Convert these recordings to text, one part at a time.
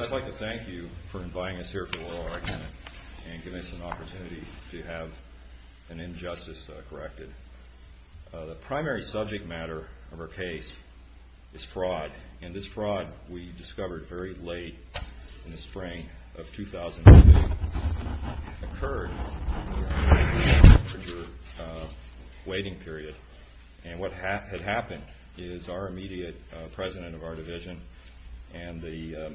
I'd like to thank you for inviting us here for the oral argument and giving us an opportunity to have an injustice corrected. The primary subject matter of our case is fraud. And this fraud, we discovered very late in the spring of 2008, occurred during a temperature waiting period. And what had happened is our immediate president of our division and the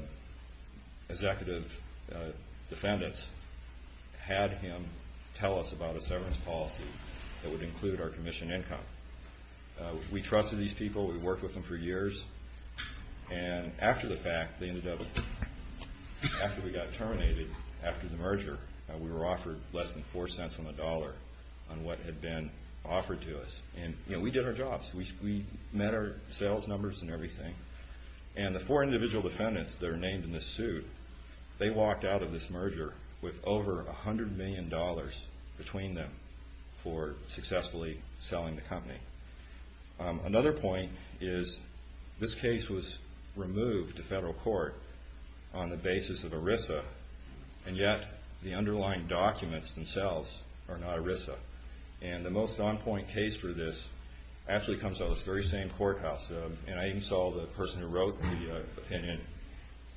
executive defendants had him tell us about a severance policy that would include our commission income. We trusted these people. We worked with them for years. And after the fact, after we got terminated after the merger, we were offered less than four cents on the dollar on what had been offered to us. And we did our jobs. We met our sales numbers and everything. And the four individual defendants that are named in this suit, they walked out of this merger with over $100 million between them for successfully selling the company. Another point is this case was removed to federal court on the basis of ERISA and yet the underlying documents themselves are not ERISA. And the most on-point case for this actually comes out of this very same courthouse. And I even saw the person who wrote the opinion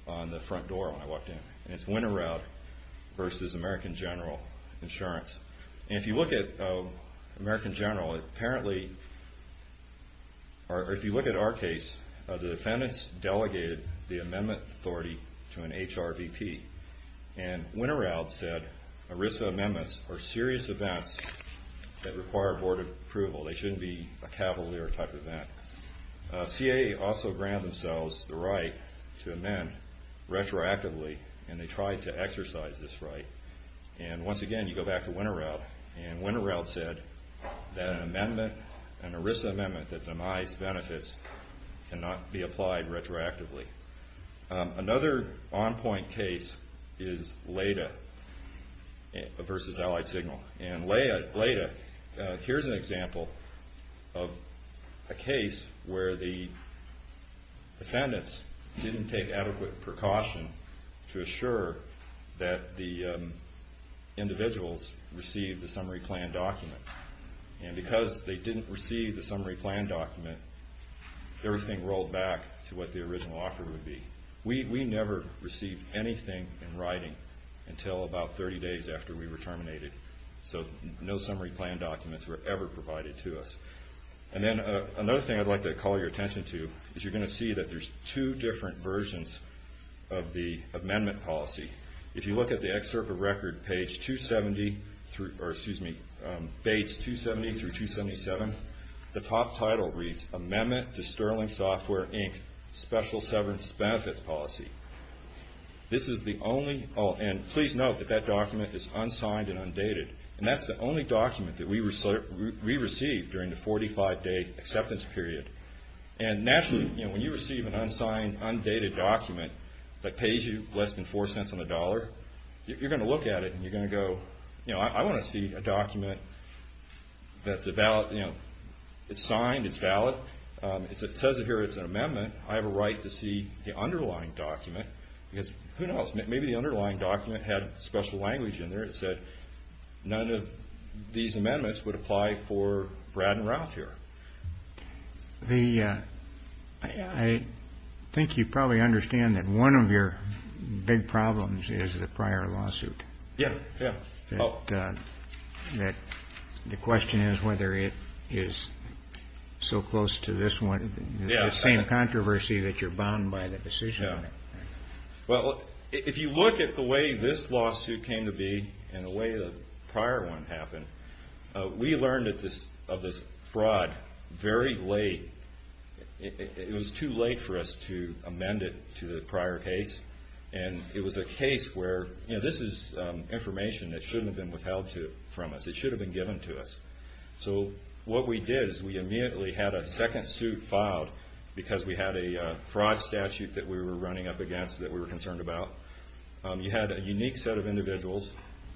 on the front door when I walked in. And it's Winterowd versus American General Insurance. And if you look at American General, apparently, or if you look at our case, the defendants delegated the amendment authority to an HRVP. And Winterowd said ERISA amendments are serious events that require board approval. They shouldn't be a cavalier type event. CAA also granted themselves the right to amend retroactively, and they tried to exercise this right. And once again, you go back to Winterowd, and Winterowd said that an amendment, an ERISA amendment that denies benefits cannot be applied retroactively. Another on-point case is Leda versus Allied Signal. And Leda, here's an example of a case where the defendants didn't take adequate precaution to assure that the individuals received the summary plan document. And because they didn't receive the summary plan document, everything rolled back to what the original offer would be. We never received anything in writing until about 30 days after we were terminated. So no summary plan documents were ever provided to us. And then another thing I'd like to call your attention to is you're going to see that there's two different versions of the amendment policy. If you look at the excerpt of record page 270, or excuse me, page 270 through 277, the top title reads, Amendment to Sterling Software, Inc. Special Severance Benefits Policy. This is the only, and please note that that document is unsigned and undated. And that's the only document that we received during the 45-day acceptance period. And naturally, you know, when you receive an unsigned, undated document that pays you less than four cents on the dollar, you're going to look at it and you're going to go, you know, I want to see a document that's valid, you know, it's signed, it's valid. It says here it's an amendment, I have a right to see the underlying document. Because who knows, maybe the underlying document had special language in there that said none of these amendments would apply for Brad and Ralph here. The, I think you probably understand that one of your big problems is the prior lawsuit. Yeah, yeah. That the question is whether it is so close to this one, the same controversy that you're bound by the decision on it. Well, if you look at the way this lawsuit came to be and the way the prior one happened, we learned of this fraud very late. It was too late for us to amend it to the prior case. And it was a case where, you know, this is information that shouldn't have been withheld from us. It should have been given to us. So what we did is we immediately had a second suit filed because we had a fraud statute that we were running up against that we were concerned about. You had a unique set of individuals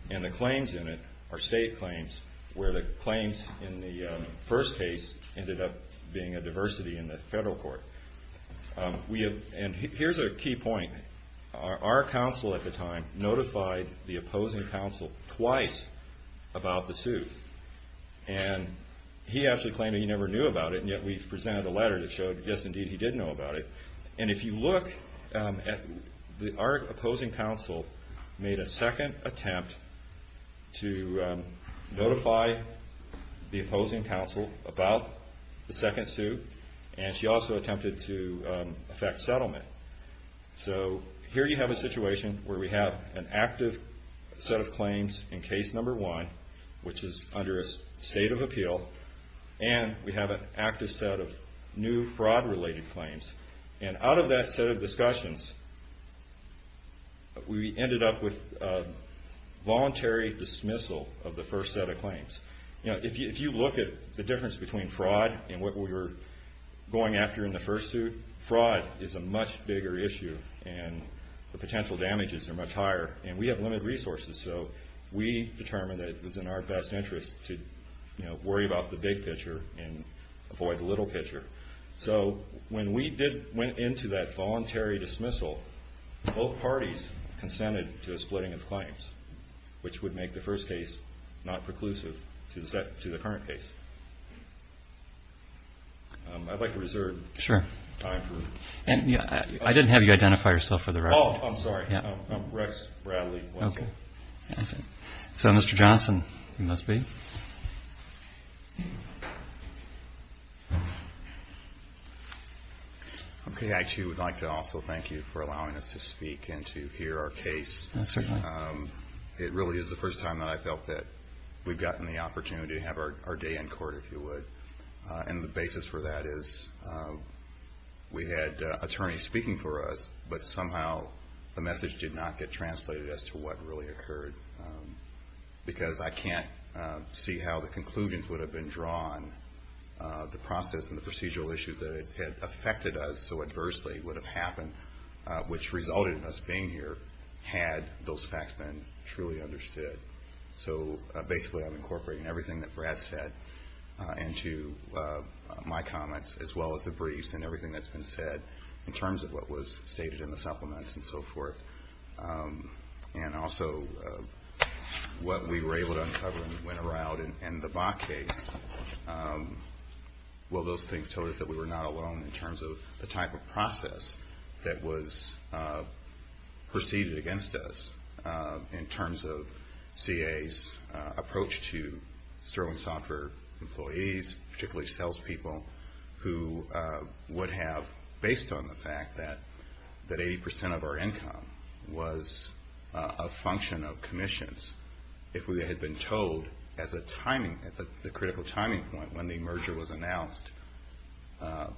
and the claims in it are state claims where the claims in the first case ended up being a diversity in the federal court. And here's a key point. Our counsel at the time notified the opposing counsel twice about the suit. And he actually claimed he never knew about it, and yet we presented a letter that showed, yes, indeed, he did know about it. And if you look, our opposing counsel made a second attempt to notify the opposing counsel about the second suit. And she also attempted to effect settlement. So here you have a situation where we have an active set of claims in case number one, which is under a state of appeal, and we have an active set of new fraud-related claims. And out of that set of discussions, we ended up with voluntary dismissal of the first set of claims. You know, if you look at the difference between fraud and what we were going after in the first suit, fraud is a much bigger issue and the potential damages are much higher, and we have limited resources. So we determined that it was in our best interest to, you know, worry about the big picture and avoid the little picture. So when we went into that voluntary dismissal, both parties consented to a splitting of claims, which would make the first case not preclusive to the current case. I'd like to reserve time for... I didn't have you identify yourself for the record. Oh, I'm sorry. I'm Rex Bradley-Wesley. So Mr. Johnson, you must be. Okay. I, too, would like to also thank you for allowing us to speak and to hear our case. Certainly. It really is the first time that I felt that we've gotten the opportunity to have our day in court, if you would. And the basis for that is we had attorneys speaking for us, but somehow the message did not get translated as to what really occurred, because I can't see how the conclusions would have been drawn, the process and the procedural issues that had affected us so adversely would have happened, which resulted in us being here had those facts been truly understood. So basically I'm incorporating everything that Brad said into my comments, as well as the briefs and everything that's been said in terms of what was stated in the supplements and so forth. And also what we were able to uncover when we went around in the Bach case. Well, those things told us that we were not alone in terms of the type of process that was proceeded against us, in terms of CA's approach to sterling software employees, particularly sales people, who would have, based on the fact that 80% of our income was a function of commissions, if we had been told at the critical timing point when the merger was announced,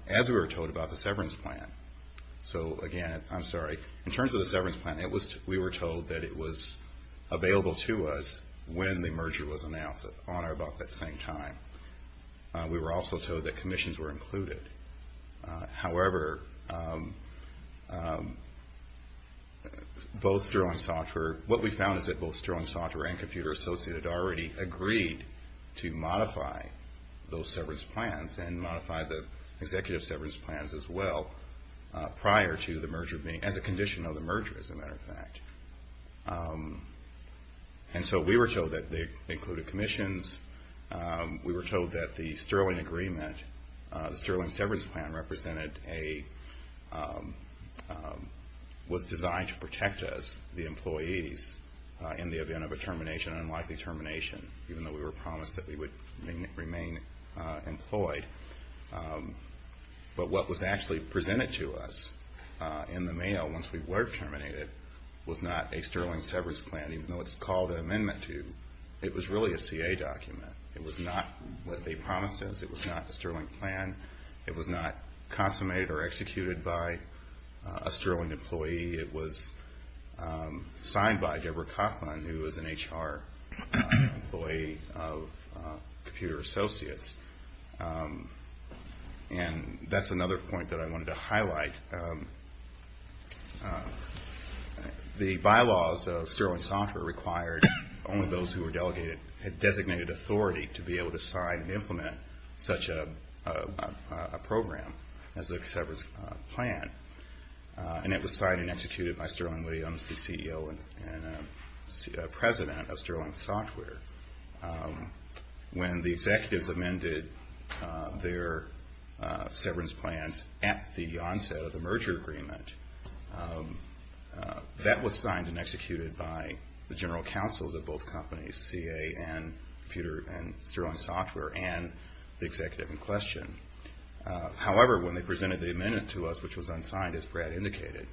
as we were told about the severance plan. So again, I'm sorry, in terms of the severance plan, we were told that it was available to us when the merger was announced, on or about that same time. We were also told that commissions were included. However, what we found is that both sterling software and Computer Associated already agreed to modify those severance plans, and modify the executive severance plans as well, prior to the merger being, as a condition of the merger, as a matter of fact. And so we were told that they included commissions. We were told that the sterling agreement, the sterling severance plan, was designed to protect us, the employees, in the event of a termination, an unlikely termination, even though we were promised that we would remain employed. But what was actually presented to us in the mail, once we were terminated, was not a sterling severance plan, even though it's called an amendment to. It was really a CA document. It was not what they promised us. It was not a sterling plan. It was not consummated or executed by a sterling employee. It was signed by Deborah Kaufman, who was an HR employee of Computer Associates. And that's another point that I wanted to highlight. The bylaws of sterling software required only those who had designated authority to be able to sign and implement such a program as a severance plan. And it was signed and executed by Sterling Williams, the CEO and President of Sterling Software. When the executives amended their severance plans at the onset of the merger agreement, that was signed and executed by the general counsels of both companies, CA and Computer and Sterling Software, and the executive in question. However, when they presented the amendment to us, which was unsigned, as Brad indicated,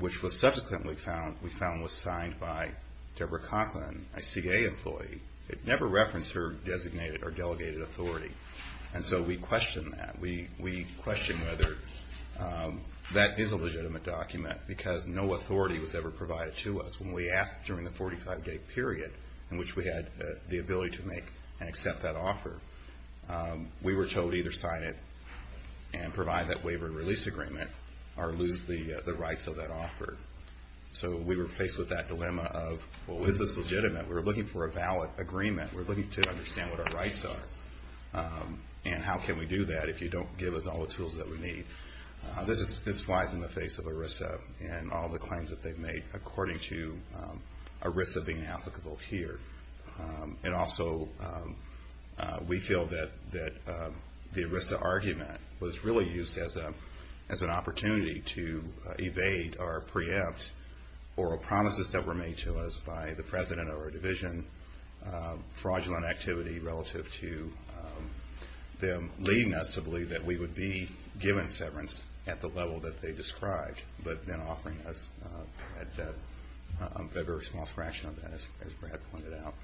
which was subsequently found was signed by Deborah Kaufman, a CA employee, it never referenced her designated or delegated authority. And so we questioned that. We questioned whether that is a legitimate document, because no authority was ever provided to us when we asked during the 45-day period in which we had the ability to make and accept that offer. We were told either sign it and provide that waiver and release agreement or lose the rights of that offer. So we were faced with that dilemma of, well, is this legitimate? We're looking for a valid agreement. We're looking to understand what our rights are, and how can we do that if you don't give us all the tools that we need? This flies in the face of ERISA and all the claims that they've made, according to ERISA being applicable here. And also we feel that the ERISA argument was really used as an opportunity to evade or preempt oral promises that were made to us by the president or a division, fraudulent activity relative to them leading us to believe that we would be given severance at the level that they described, but then offering us a very small fraction of that, as Brad pointed out.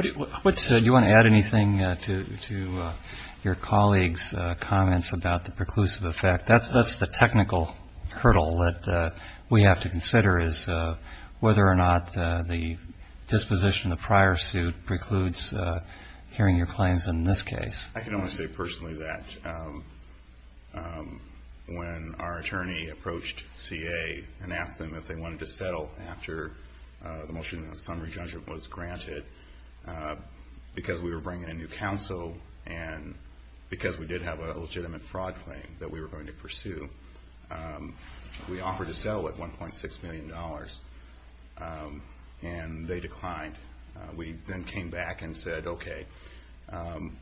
Do you want to add anything to your colleagues' comments about the preclusive effect? That's the technical hurdle that we have to consider, is whether or not the disposition of the prior suit precludes hearing your claims in this case. I can only say personally that when our attorney approached CA and asked them if they wanted to settle after the motion of summary judgment was granted, because we were bringing a new counsel and because we did have a legitimate fraud claim that we were going to pursue, we offered to settle at $1.6 million, and they declined. We then came back and said, okay,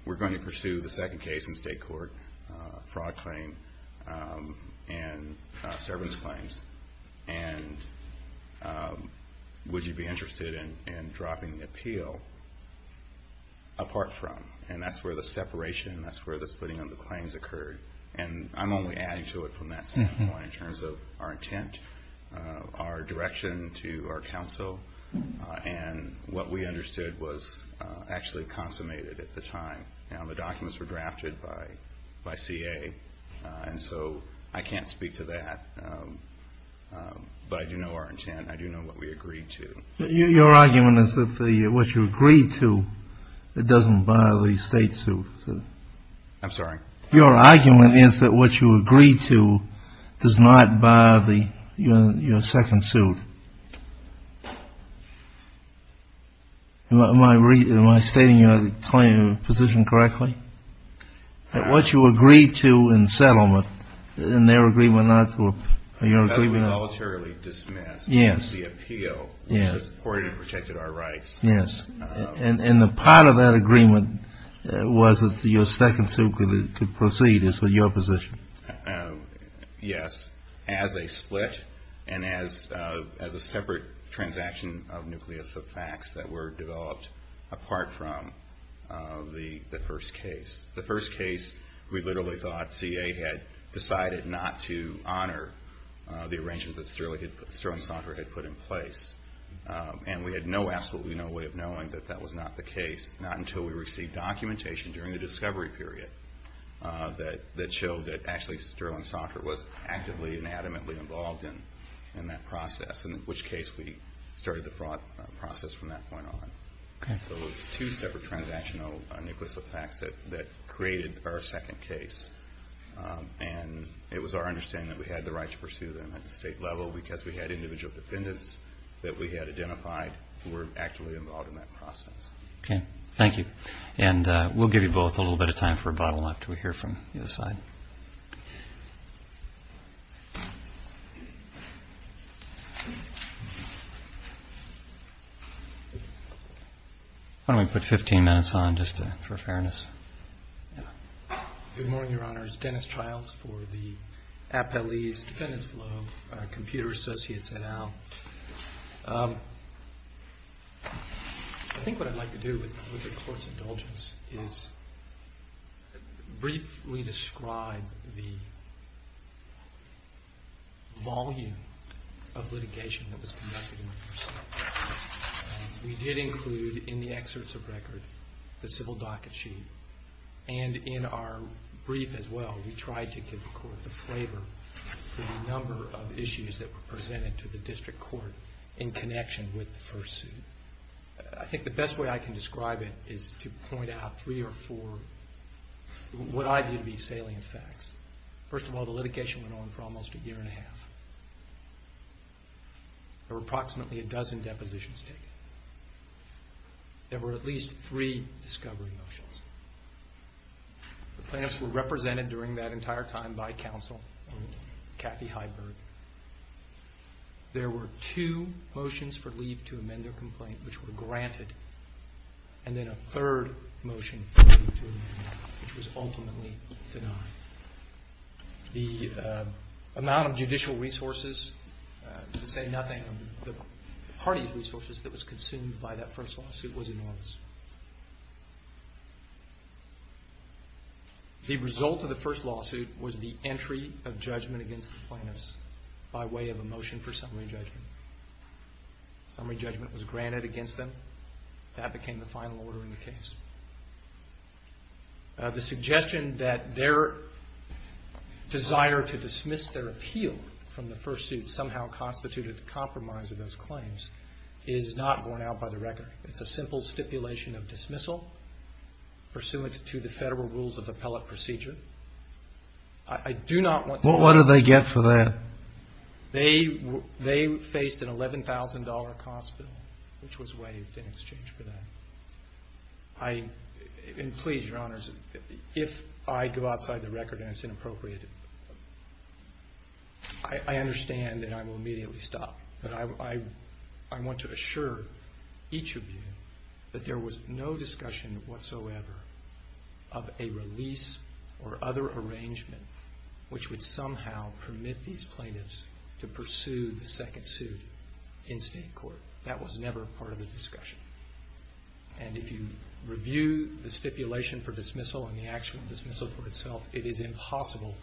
we're going to pursue the second case in state court, fraud claim and severance claims, and would you be interested in dropping the appeal apart from? And that's where the separation, that's where the splitting of the claims occurred. And I'm only adding to it from that standpoint in terms of our intent, our direction to our counsel, and what we understood was actually consummated at the time. Now, the documents were drafted by CA, and so I can't speak to that, but I do know our intent, I do know what we agreed to. Your argument is that what you agreed to, it doesn't buy the state suit. I'm sorry? Your argument is that what you agreed to does not buy your second suit. Am I stating your position correctly? That what you agreed to in settlement, in their agreement not to... That was voluntarily dismissed. Yes. And the part of that agreement was that your second suit could proceed. Yes. As a split and as a separate transaction of nucleus of facts that were developed apart from the first case. The first case, we literally thought CA had decided not to honor the arrangements that Sterling Saundra had put in place. And we had no, absolutely no way of knowing that that was not the case, not until we received documentation during the discovery period that showed that actually Sterling Saundra was actively and adamantly involved in that process, in which case we started the process from that point on. So it's two separate transactional nucleus of facts that created our second case. And it was our understanding that we had the right to pursue them at the state level because we had individual defendants that we had identified who were actively involved in that process. Okay, thank you. Why don't we put 15 minutes on just for fairness? Good morning, Your Honor. It's Dennis Childs for the Appellee's Defendant's Club, Computer Associates et al. I think what I'd like to do with the Court's indulgence is briefly describe the volume of litigation that was conducted. We did include in the excerpts of record the civil docket sheet, and in our brief as well we tried to give the Court the flavor for the number of issues that were presented to the District Court in connection with the first suit. I think the best way I can describe it is to point out three or four, what I view to be salient facts. First of all, the litigation went on for almost a year and a half. There were approximately a dozen depositions taken. There were at least three discovery motions. The plaintiffs were represented during that entire time by counsel, Kathy Heiberg. There were two motions for leave to amend their complaint, which were granted, and then a third motion for leave to amend, which was ultimately denied. The amount of judicial resources, to say nothing of the party's resources that was consumed by that first lawsuit, was enormous. The result of the first lawsuit was the entry of judgment against the plaintiffs by way of a motion for summary judgment. Summary judgment was granted against them. That became the final order in the case. The suggestion that their desire to dismiss their appeal from the first suit had somehow constituted the compromise of those claims is not borne out by the record. It's a simple stipulation of dismissal, pursuant to the Federal Rules of Appellate Procedure. I do not want to... They faced an $11,000 cost bill, which was waived in exchange for that. And please, Your Honors, if I go outside the record and it's inappropriate, I understand and I will immediately stop. But I want to assure each of you that there was no discussion whatsoever of a release or other arrangement which would somehow permit these plaintiffs to pursue the second suit in state court. That was never part of the discussion. And if you review the stipulation for dismissal and the actual dismissal for itself, it is impossible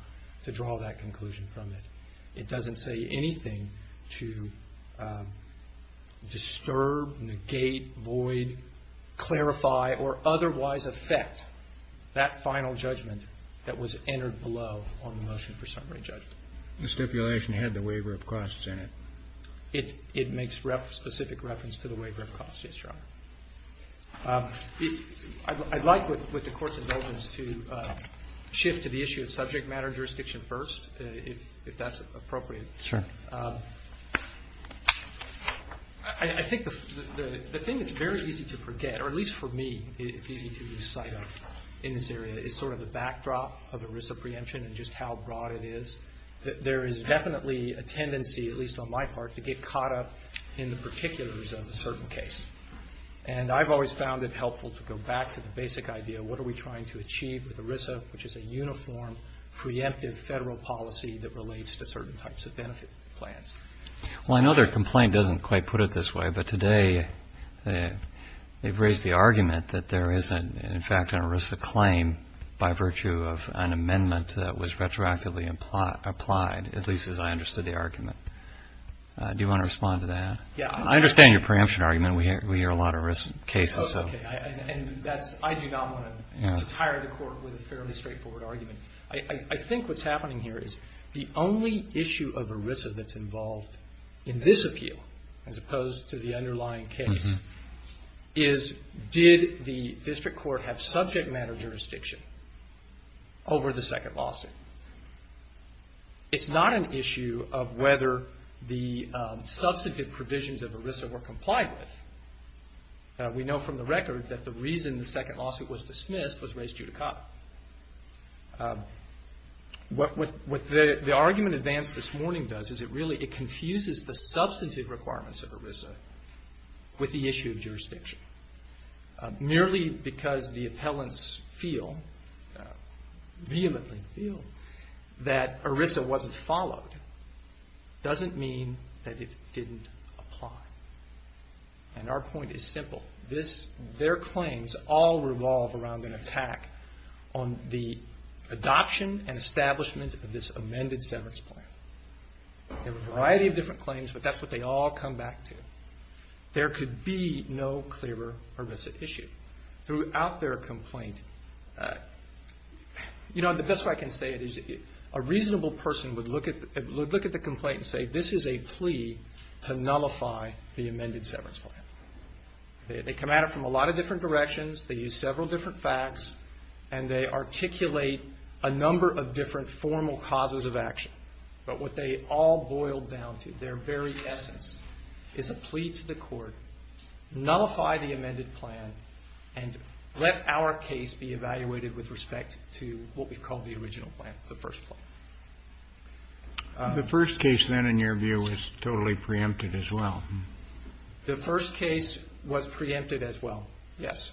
to draw that conclusion from it. It doesn't say anything to disturb, negate, void, clarify, or otherwise affect that final judgment that was entered below on the motion for summary judgment. The stipulation had the waiver of costs in it. It makes specific reference to the waiver of costs, yes, Your Honor. I'd like, with the Court's indulgence, to shift to the issue of subject matter jurisdiction first, if that's appropriate. Sure. I think the thing that's very easy to forget, or at least for me it's easy to recite in this area, is sort of the backdrop of ERISA preemption and just how broad it is. There is definitely a tendency, at least on my part, to get caught up in the particulars of a certain case. And I've always found it helpful to go back to the basic idea, what are we trying to achieve with ERISA, which is a uniform, preemptive federal policy that relates to certain types of benefit plans. Well, I know their complaint doesn't quite put it this way, but today they've raised the argument that there is, in fact, an ERISA claim by virtue of an amendment that was retroactively applied, at least as I understood the argument. Do you want to respond to that? I understand your preemption argument. We hear a lot of ERISA cases. I do not want to tire the Court with a fairly straightforward argument. I think what's happening here is the only issue of ERISA that's involved in this appeal, as opposed to the underlying case, is did the District Court have subject matter jurisdiction over the second lawsuit? It's not an issue of whether the District Court had subject matter jurisdiction over the second lawsuit. What the argument advanced this morning does is it really, it confuses the substantive requirements of ERISA with the issue of jurisdiction. Merely because the appellants feel, vehemently feel, that ERISA wasn't followed doesn't mean that it didn't apply. Our point is simple. Their claims all revolve around an attack on the adoption and establishment of this amended severance plan. There are a variety of different claims, but that's what they all come back to. There could be no clearer ERISA issue. Throughout their complaint, the best way I can say it is a reasonable person would look at the complaint and say this is a plea to nullify the amended severance plan. They come at it from a lot of different directions. They use several different facts, and they articulate a number of different formal causes of action. But what they all boil down to, their very essence, is a plea to the Court, nullify the amended plan, and let our case be evaluated with respect to what we call the original plan, the first plan. The first case then, in your view, was totally preempted as well. The first case was preempted as well, yes.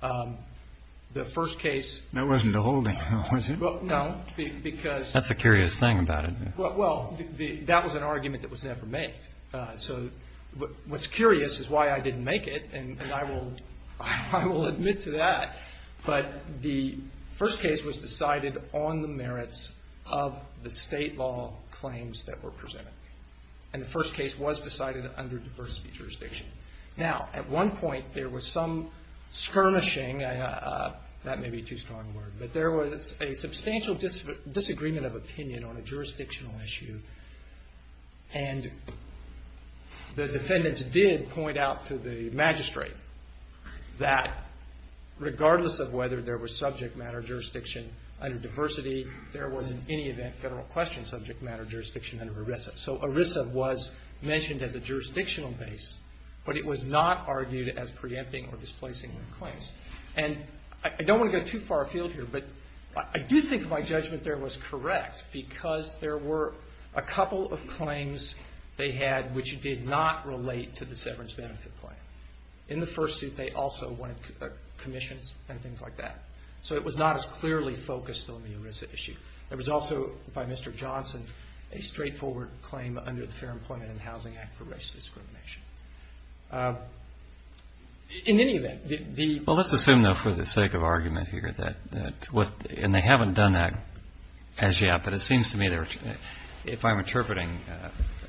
The first case... That wasn't a holding, was it? No, because... That's the curious thing about it. Well, that was an argument that was never made. So, what's curious is why I didn't make it, and I will admit to that. But the first case was decided on the merits of the state law claims that were presented. And the first case was decided under diversity jurisdiction. Now, at one point, there was some skirmishing, that may be too strong a word, but there was a substantial disagreement of opinion on a jurisdictional issue. And the defendants did point out to the magistrate that regardless of whether there was subject matter jurisdiction under diversity, there was, in any event, federal question subject matter jurisdiction under ERISA. So, ERISA was mentioned as a jurisdictional base, but it was not argued as preempting or displacing the claims. And I don't want to go too far afield here, but I do think my judgment there was correct, because there were a couple of claims they had which did not relate to the severance benefit plan. In the first suit, they also wanted commissions and things like that. So, it was not as clearly focused on the ERISA issue. There was also, by Mr. Johnson, a straightforward claim under the Fair Employment and Housing Act for racial discrimination. In any event, the — Well, let's assume, though, for the sake of argument here, that what — and they haven't done that as yet, but it seems to me they're — if I'm interpreting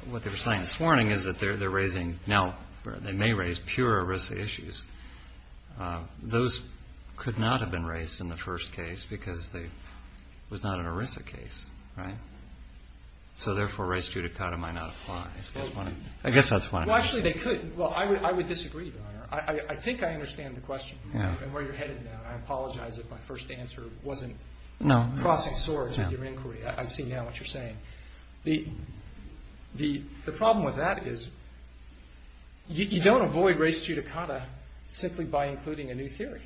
what they were saying this morning, is that they're raising — now, they may raise pure ERISA issues. Those could not have been raised in the first case because they — it was not an ERISA case, right? So, therefore, res judicata might not apply. I guess that's what I'm — Well, actually, they could. Well, I would disagree, Your Honor. I think I understand the question and where you're headed now. I apologize if my first answer wasn't crossing swords with your inquiry. I see now what you're saying. The problem with that is you don't avoid res judicata simply by including a new theory.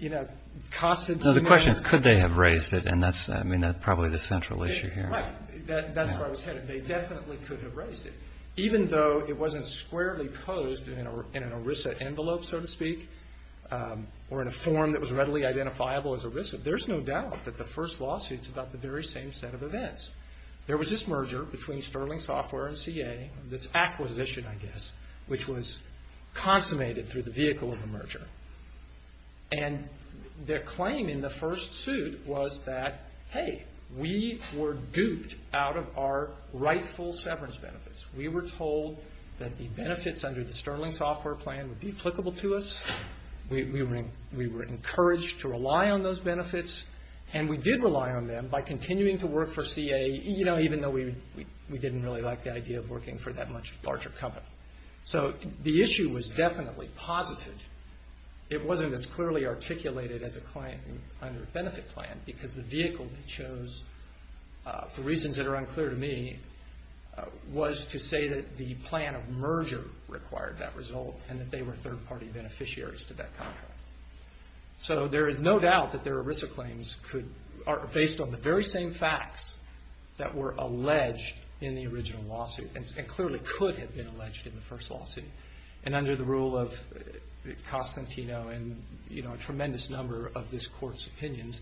You know, Constance — No, the question is, could they have raised it? And that's, I mean, probably the central issue here. Right. That's where I was headed. They definitely could have raised it, even though it wasn't squarely posed in an ERISA envelope, so to speak, or in a form that was readily identifiable as ERISA. There's no doubt that the first lawsuit's about the very same set of events. There was this merger between Sterling Software and CA, this acquisition, I guess, which was consummated through the vehicle of the merger. And their claim in the first suit was that, hey, we were gooped out of our rightful severance benefits. We were told that the benefits under the Sterling Software plan would be applicable to us. We were encouraged to rely on those because we didn't really like the idea of working for that much larger company. So the issue was definitely positive. It wasn't as clearly articulated as a claim under a benefit plan because the vehicle they chose, for reasons that are unclear to me, was to say that the plan of merger required that result and that they were third-party beneficiaries to that contract. So there is no doubt that their ERISA claims are based on the very same facts that were alleged in the original lawsuit and clearly could have been alleged in the first lawsuit. And under the rule of Constantino and a tremendous number of this Court's opinions,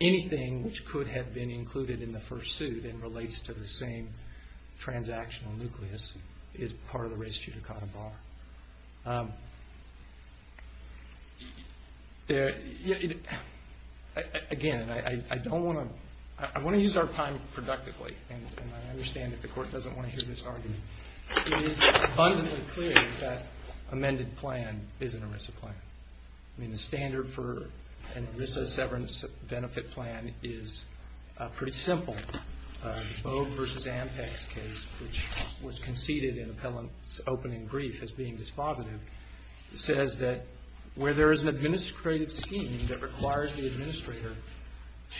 anything which could have been included in the first suit and relates to the same transactional nucleus is part of the res judicata bar. Again, I don't want to I want to use our time productively, and I understand that the Court doesn't want to hear this argument. It is abundantly clear that that amended plan is an ERISA plan. I mean, the standard for an ERISA severance benefit plan is pretty simple. The Bogue v. Ampex case, which was conceded in an open and brief as being dispositive, says that where there is an administrative scheme that requires the administrator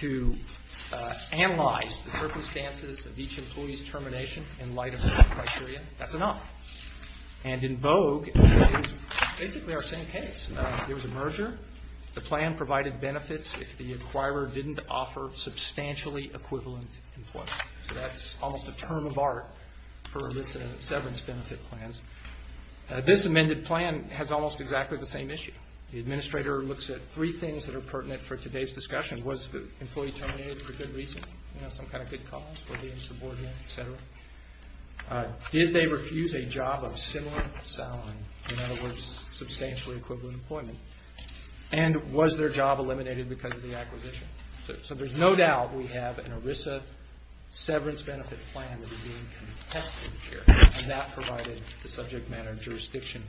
to analyze the circumstances of each employee's termination in light of the criteria, that's enough. And in Bogue, it's basically our same case. There was a merger. The plan provided benefits if the acquirer didn't offer substantially equivalent employment. So that's almost a term of art for ERISA severance benefit plans. This amended plan has almost exactly the same issue. The administrator looks at three things that are pertinent for today's discussion. Was the employee terminated for good reason? You know, some kind of good cause for being subordinate, et cetera. Did they refuse a job of similar salary? In other words, substantially equivalent employment. And was their job eliminated because of the acquisition? So there's no doubt we have an ERISA severance benefit plan that is being contested here. And that provided the subject matter of jurisdiction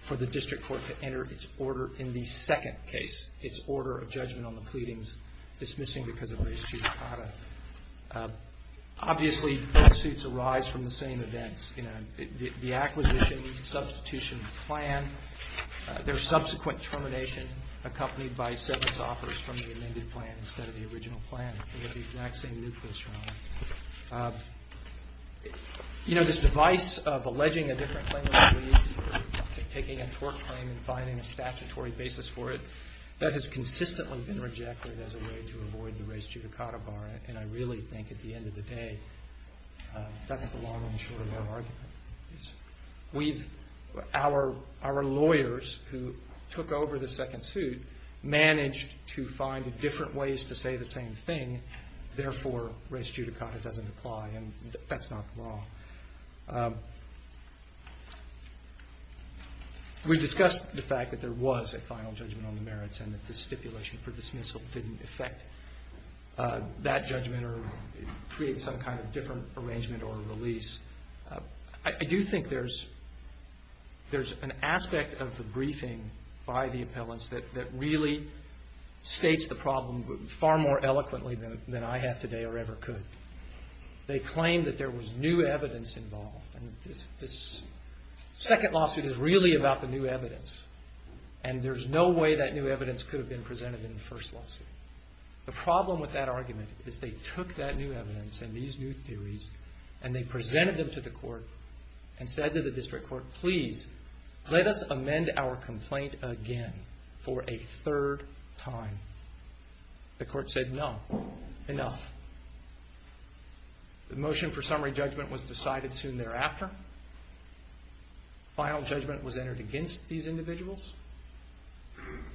for the district court to enter its order in the second case, its order of judgment on the pleadings dismissing because of race, gender, and status. Obviously, both suits arise from the same events. You know, the acquisition, substitution of the plan, their subsequent termination accompanied by severance offers from the amended plan instead of the original plan. They have the exact same nucleus. You know, this device of alleging a different claim, taking a tort claim and finding a statutory basis for it, that has consistently been rejected as a way to avoid the race judicata bar. And I really think at the end of the day, that's the long and short of our argument. Our lawyers who took over the second suit managed to find different ways to say the same thing. Therefore, race judicata doesn't apply, and that's not the law. We discussed the fact that there was a reason for that judgment or create some kind of different arrangement or release. I do think there's an aspect of the briefing by the appellants that really states the problem far more eloquently than I have today or ever could. They claimed that there was new evidence involved. And this second lawsuit is really about the new evidence. And there's no way that new evidence could have been presented in the first lawsuit. The problem with that argument is they took that new evidence and these new theories and they presented them to the court and said to the district court, please, let us amend our complaint again for a third time. The court said, no, enough. The motion for summary judgment was decided soon thereafter. Final judgment was entered against these individuals.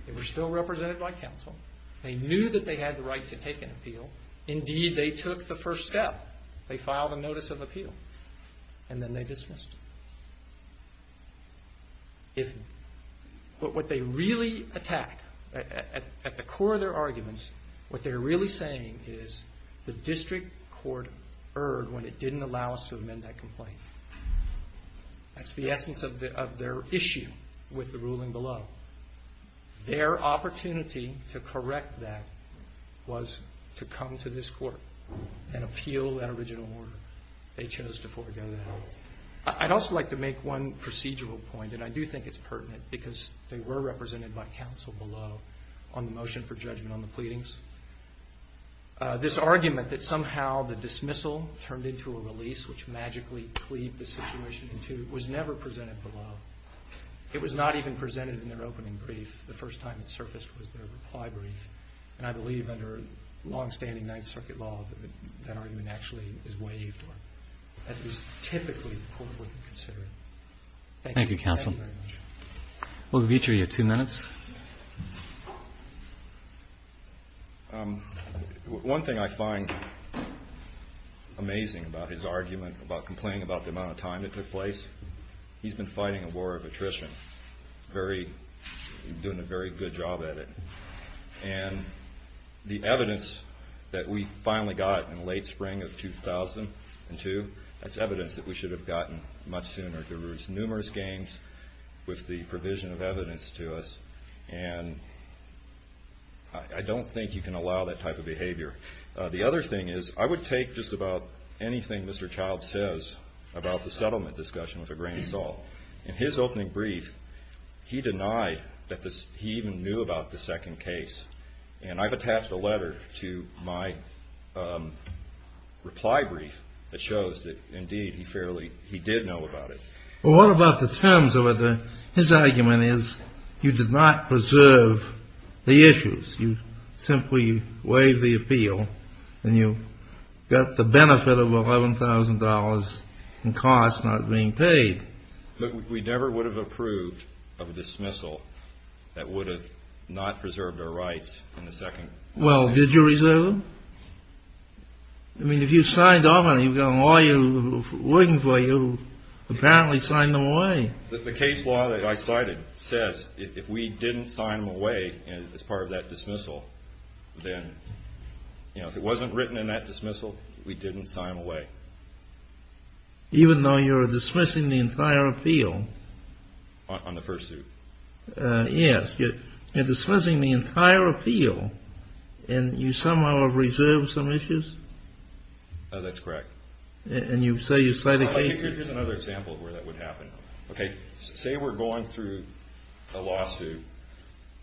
They were still represented by counsel. They knew that they had the right to take an appeal. Indeed, they took the first step. They filed a notice of appeal. And then they dismissed it. But what they really attack, at the core of their arguments, what they're really saying is the district court erred when it didn't allow us to amend that complaint. That's the essence of their issue with the ruling below. Their opportunity to correct that was to come to this court and appeal that original order. They chose to forgo that. I'd also like to make one procedural point, and I do think it's pertinent because they were this argument that somehow the dismissal turned into a release, which magically cleaved the situation in two, was never presented below. It was not even presented in their opening brief. The first time it surfaced was their reply brief. And I believe under longstanding Ninth Circuit law, that argument actually is waived or at least typically the court wouldn't consider it. Thank you. Thank you, counsel. Thank you very much. Mugavitri, you have two minutes. One thing I find amazing about his argument, about complaining about the amount of time it took place, he's been fighting a war of attrition, doing a very good job at it. And the evidence that we finally got in late spring of 2002, that's evidence that we should have gotten much sooner. There were numerous games with the provision of evidence to us. And I don't think you can allow that type of behavior. The other thing is, I would take just about anything Mr. Child says about the settlement discussion with a grain of salt. In his opening brief, he denied that he even knew about the second case. And I've attached a letter to my reply brief that shows that, indeed, he fairly, he did know about it. Well, what about the terms of it? His argument is you did not preserve the issues. You simply waived the appeal and you got the benefit of $11,000 in costs not being paid. But we never would have approved of a dismissal that would have not preserved our rights in the second case. Well, did you reserve them? I mean, if you signed them and you've got a lawyer working for you, apparently sign them away. The case law that I cited says if we didn't sign them away as part of that dismissal, then, you know, if it wasn't written in that dismissal, we didn't sign them away. Even though you're dismissing the entire appeal? On the first suit. Yes. You're dismissing the entire appeal and you somehow have reserved some issues? That's correct. And you say you cited cases? Here's another example of where that would happen. Okay? Say we're going through a lawsuit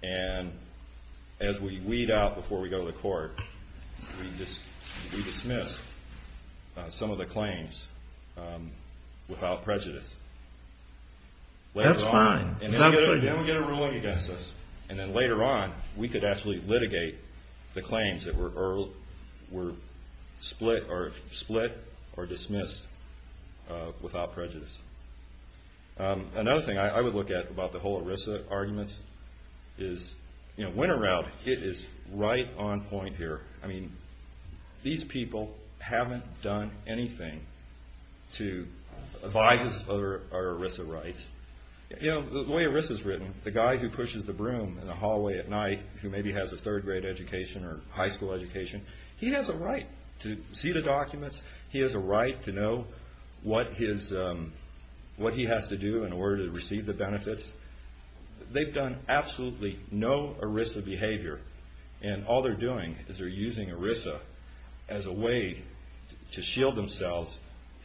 and as we weed out before we go to the court, we dismiss some of the claims without prejudice. That's fine. And then we get a ruling against us. And then later on, we could actually litigate the claims that were split or dismissed without prejudice. Another thing I would look at about the whole ERISA argument is, you know, winter route, it is right on point here. I mean, these people haven't done anything to advise us of our ERISA rights. You know, the way ERISA is written, the guy who pushes the broom in the hallway at night who maybe has a third grade education or high school education, he has a right to see the documents. He has a right to know what he has to do in order to receive the benefits. They've done absolutely no ERISA behavior. And all they're doing is they're using ERISA as a way to shield themselves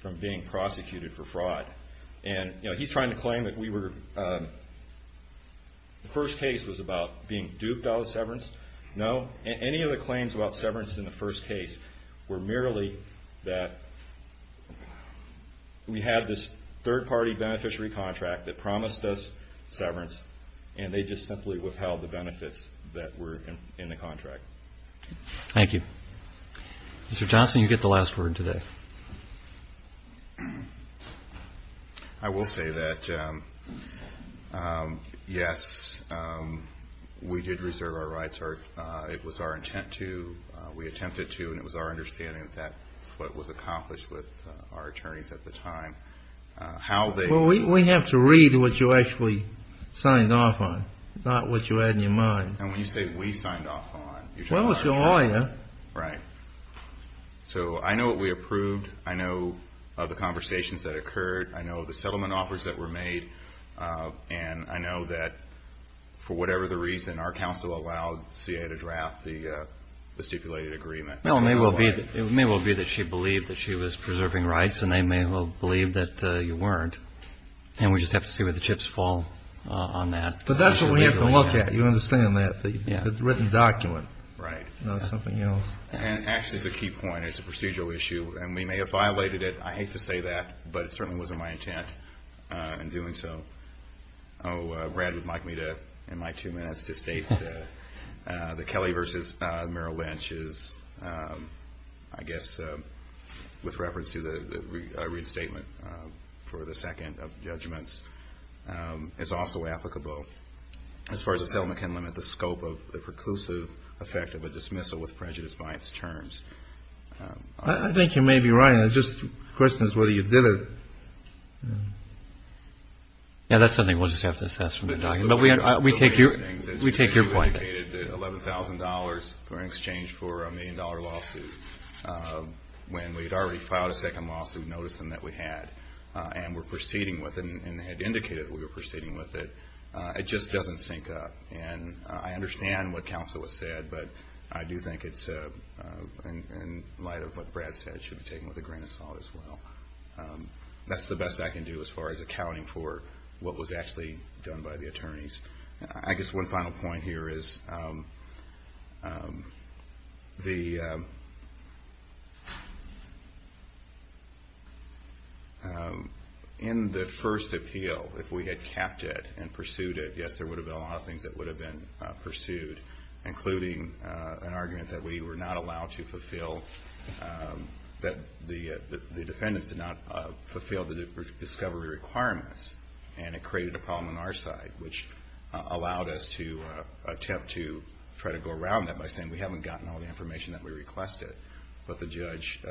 from being prosecuted for fraud. And, you know, he's trying to claim that we were, the first case was about being duped out of severance. No, any of the claims about severance in the first case were merely that we had this third-party beneficiary contract that promised us severance, and they just simply withheld the benefits that were in the contract. Thank you. Mr. Johnson, you get the last word today. I will say that, yes, we did reserve our rights. It was our intent to. We attempted to, and it was our understanding that that's what was accomplished with our attorneys at the time. Well, we have to read what you actually signed off on, not what you had in your mind. And when you say we signed off on, you're talking about us. Well, it was your lawyer. Right. So I know what we approved. I know the conversations that occurred. I know the settlement offers that were made. And I know that for whatever the reason, our counsel allowed CA to draft the stipulated agreement. Well, it may well be that she believed that she was preserving rights, and they may well believe that you weren't. And we just have to see where the chips fall on that. But that's what we have to look at. You understand that? Yeah. The written document. Right. Not something else. And, actually, it's a key point. It's a procedural issue. And we may have violated it. I hate to say that, but it certainly wasn't my intent in doing so. Oh, Brad would like me to, in my two minutes, to state that the Kelly versus Merrill Lynch is, I guess, with reference to the restatement for the second of judgments, is also applicable. As far as the settlement can limit the scope of the preclusive effect of a dismissal with prejudice by its terms. I think you may be right. The question is whether you did it. Yeah, that's something we'll just have to assess from the document. But we take your point. We paid $11,000 in exchange for a million-dollar lawsuit when we had already filed a second lawsuit, and we're proceeding with it, and had indicated that we were proceeding with it. It just doesn't sync up. And I understand what counsel has said, but I do think it's in light of what Brad said, it should be taken with a grain of salt as well. That's the best I can do as far as accounting for what was actually done by the attorneys. I guess one final point here is, in the first appeal, if we had kept it and pursued it, yes, there would have been a lot of things that would have been pursued, including an argument that we were not allowed to fulfill, that the defendants did not fulfill the discovery requirements, and it created a problem on our side, which allowed us to attempt to try to go around that by saying we haven't gotten all the information that we requested, but the judge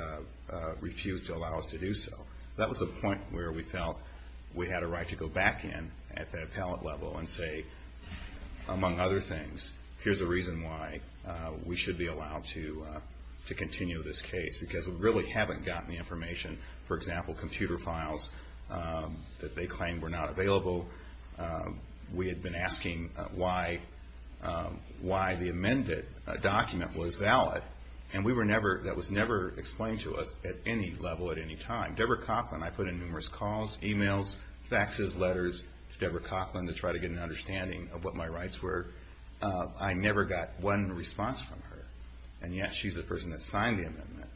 refused to allow us to do so. That was the point where we felt we had a right to go back in at the appellate level and say, among other things, here's the reason why we should be allowed to continue this case, because we really haven't gotten the information. For example, computer files that they claimed were not available. We had been asking why the amended document was valid, and that was never explained to us at any level at any time. Deborah Coughlin, I put in numerous calls, emails, faxes, letters to Deborah Coughlin to try to get an understanding of what my rights were. I never got one response from her, and yet she's the person that signed the amendment,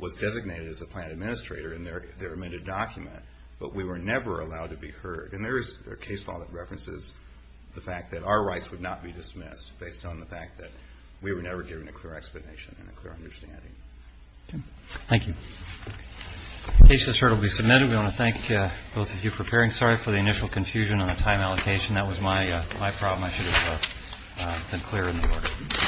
was designated as a plan administrator in their amended document, but we were never allowed to be heard. And there is a case law that references the fact that our rights would not be dismissed based on the fact that we were never given a clear explanation and a clear understanding. Thank you. The case has heard will be submitted. We want to thank both of you for preparing, sorry, for the initial confusion on the time allocation. That was my problem. I should have been clearer in the order.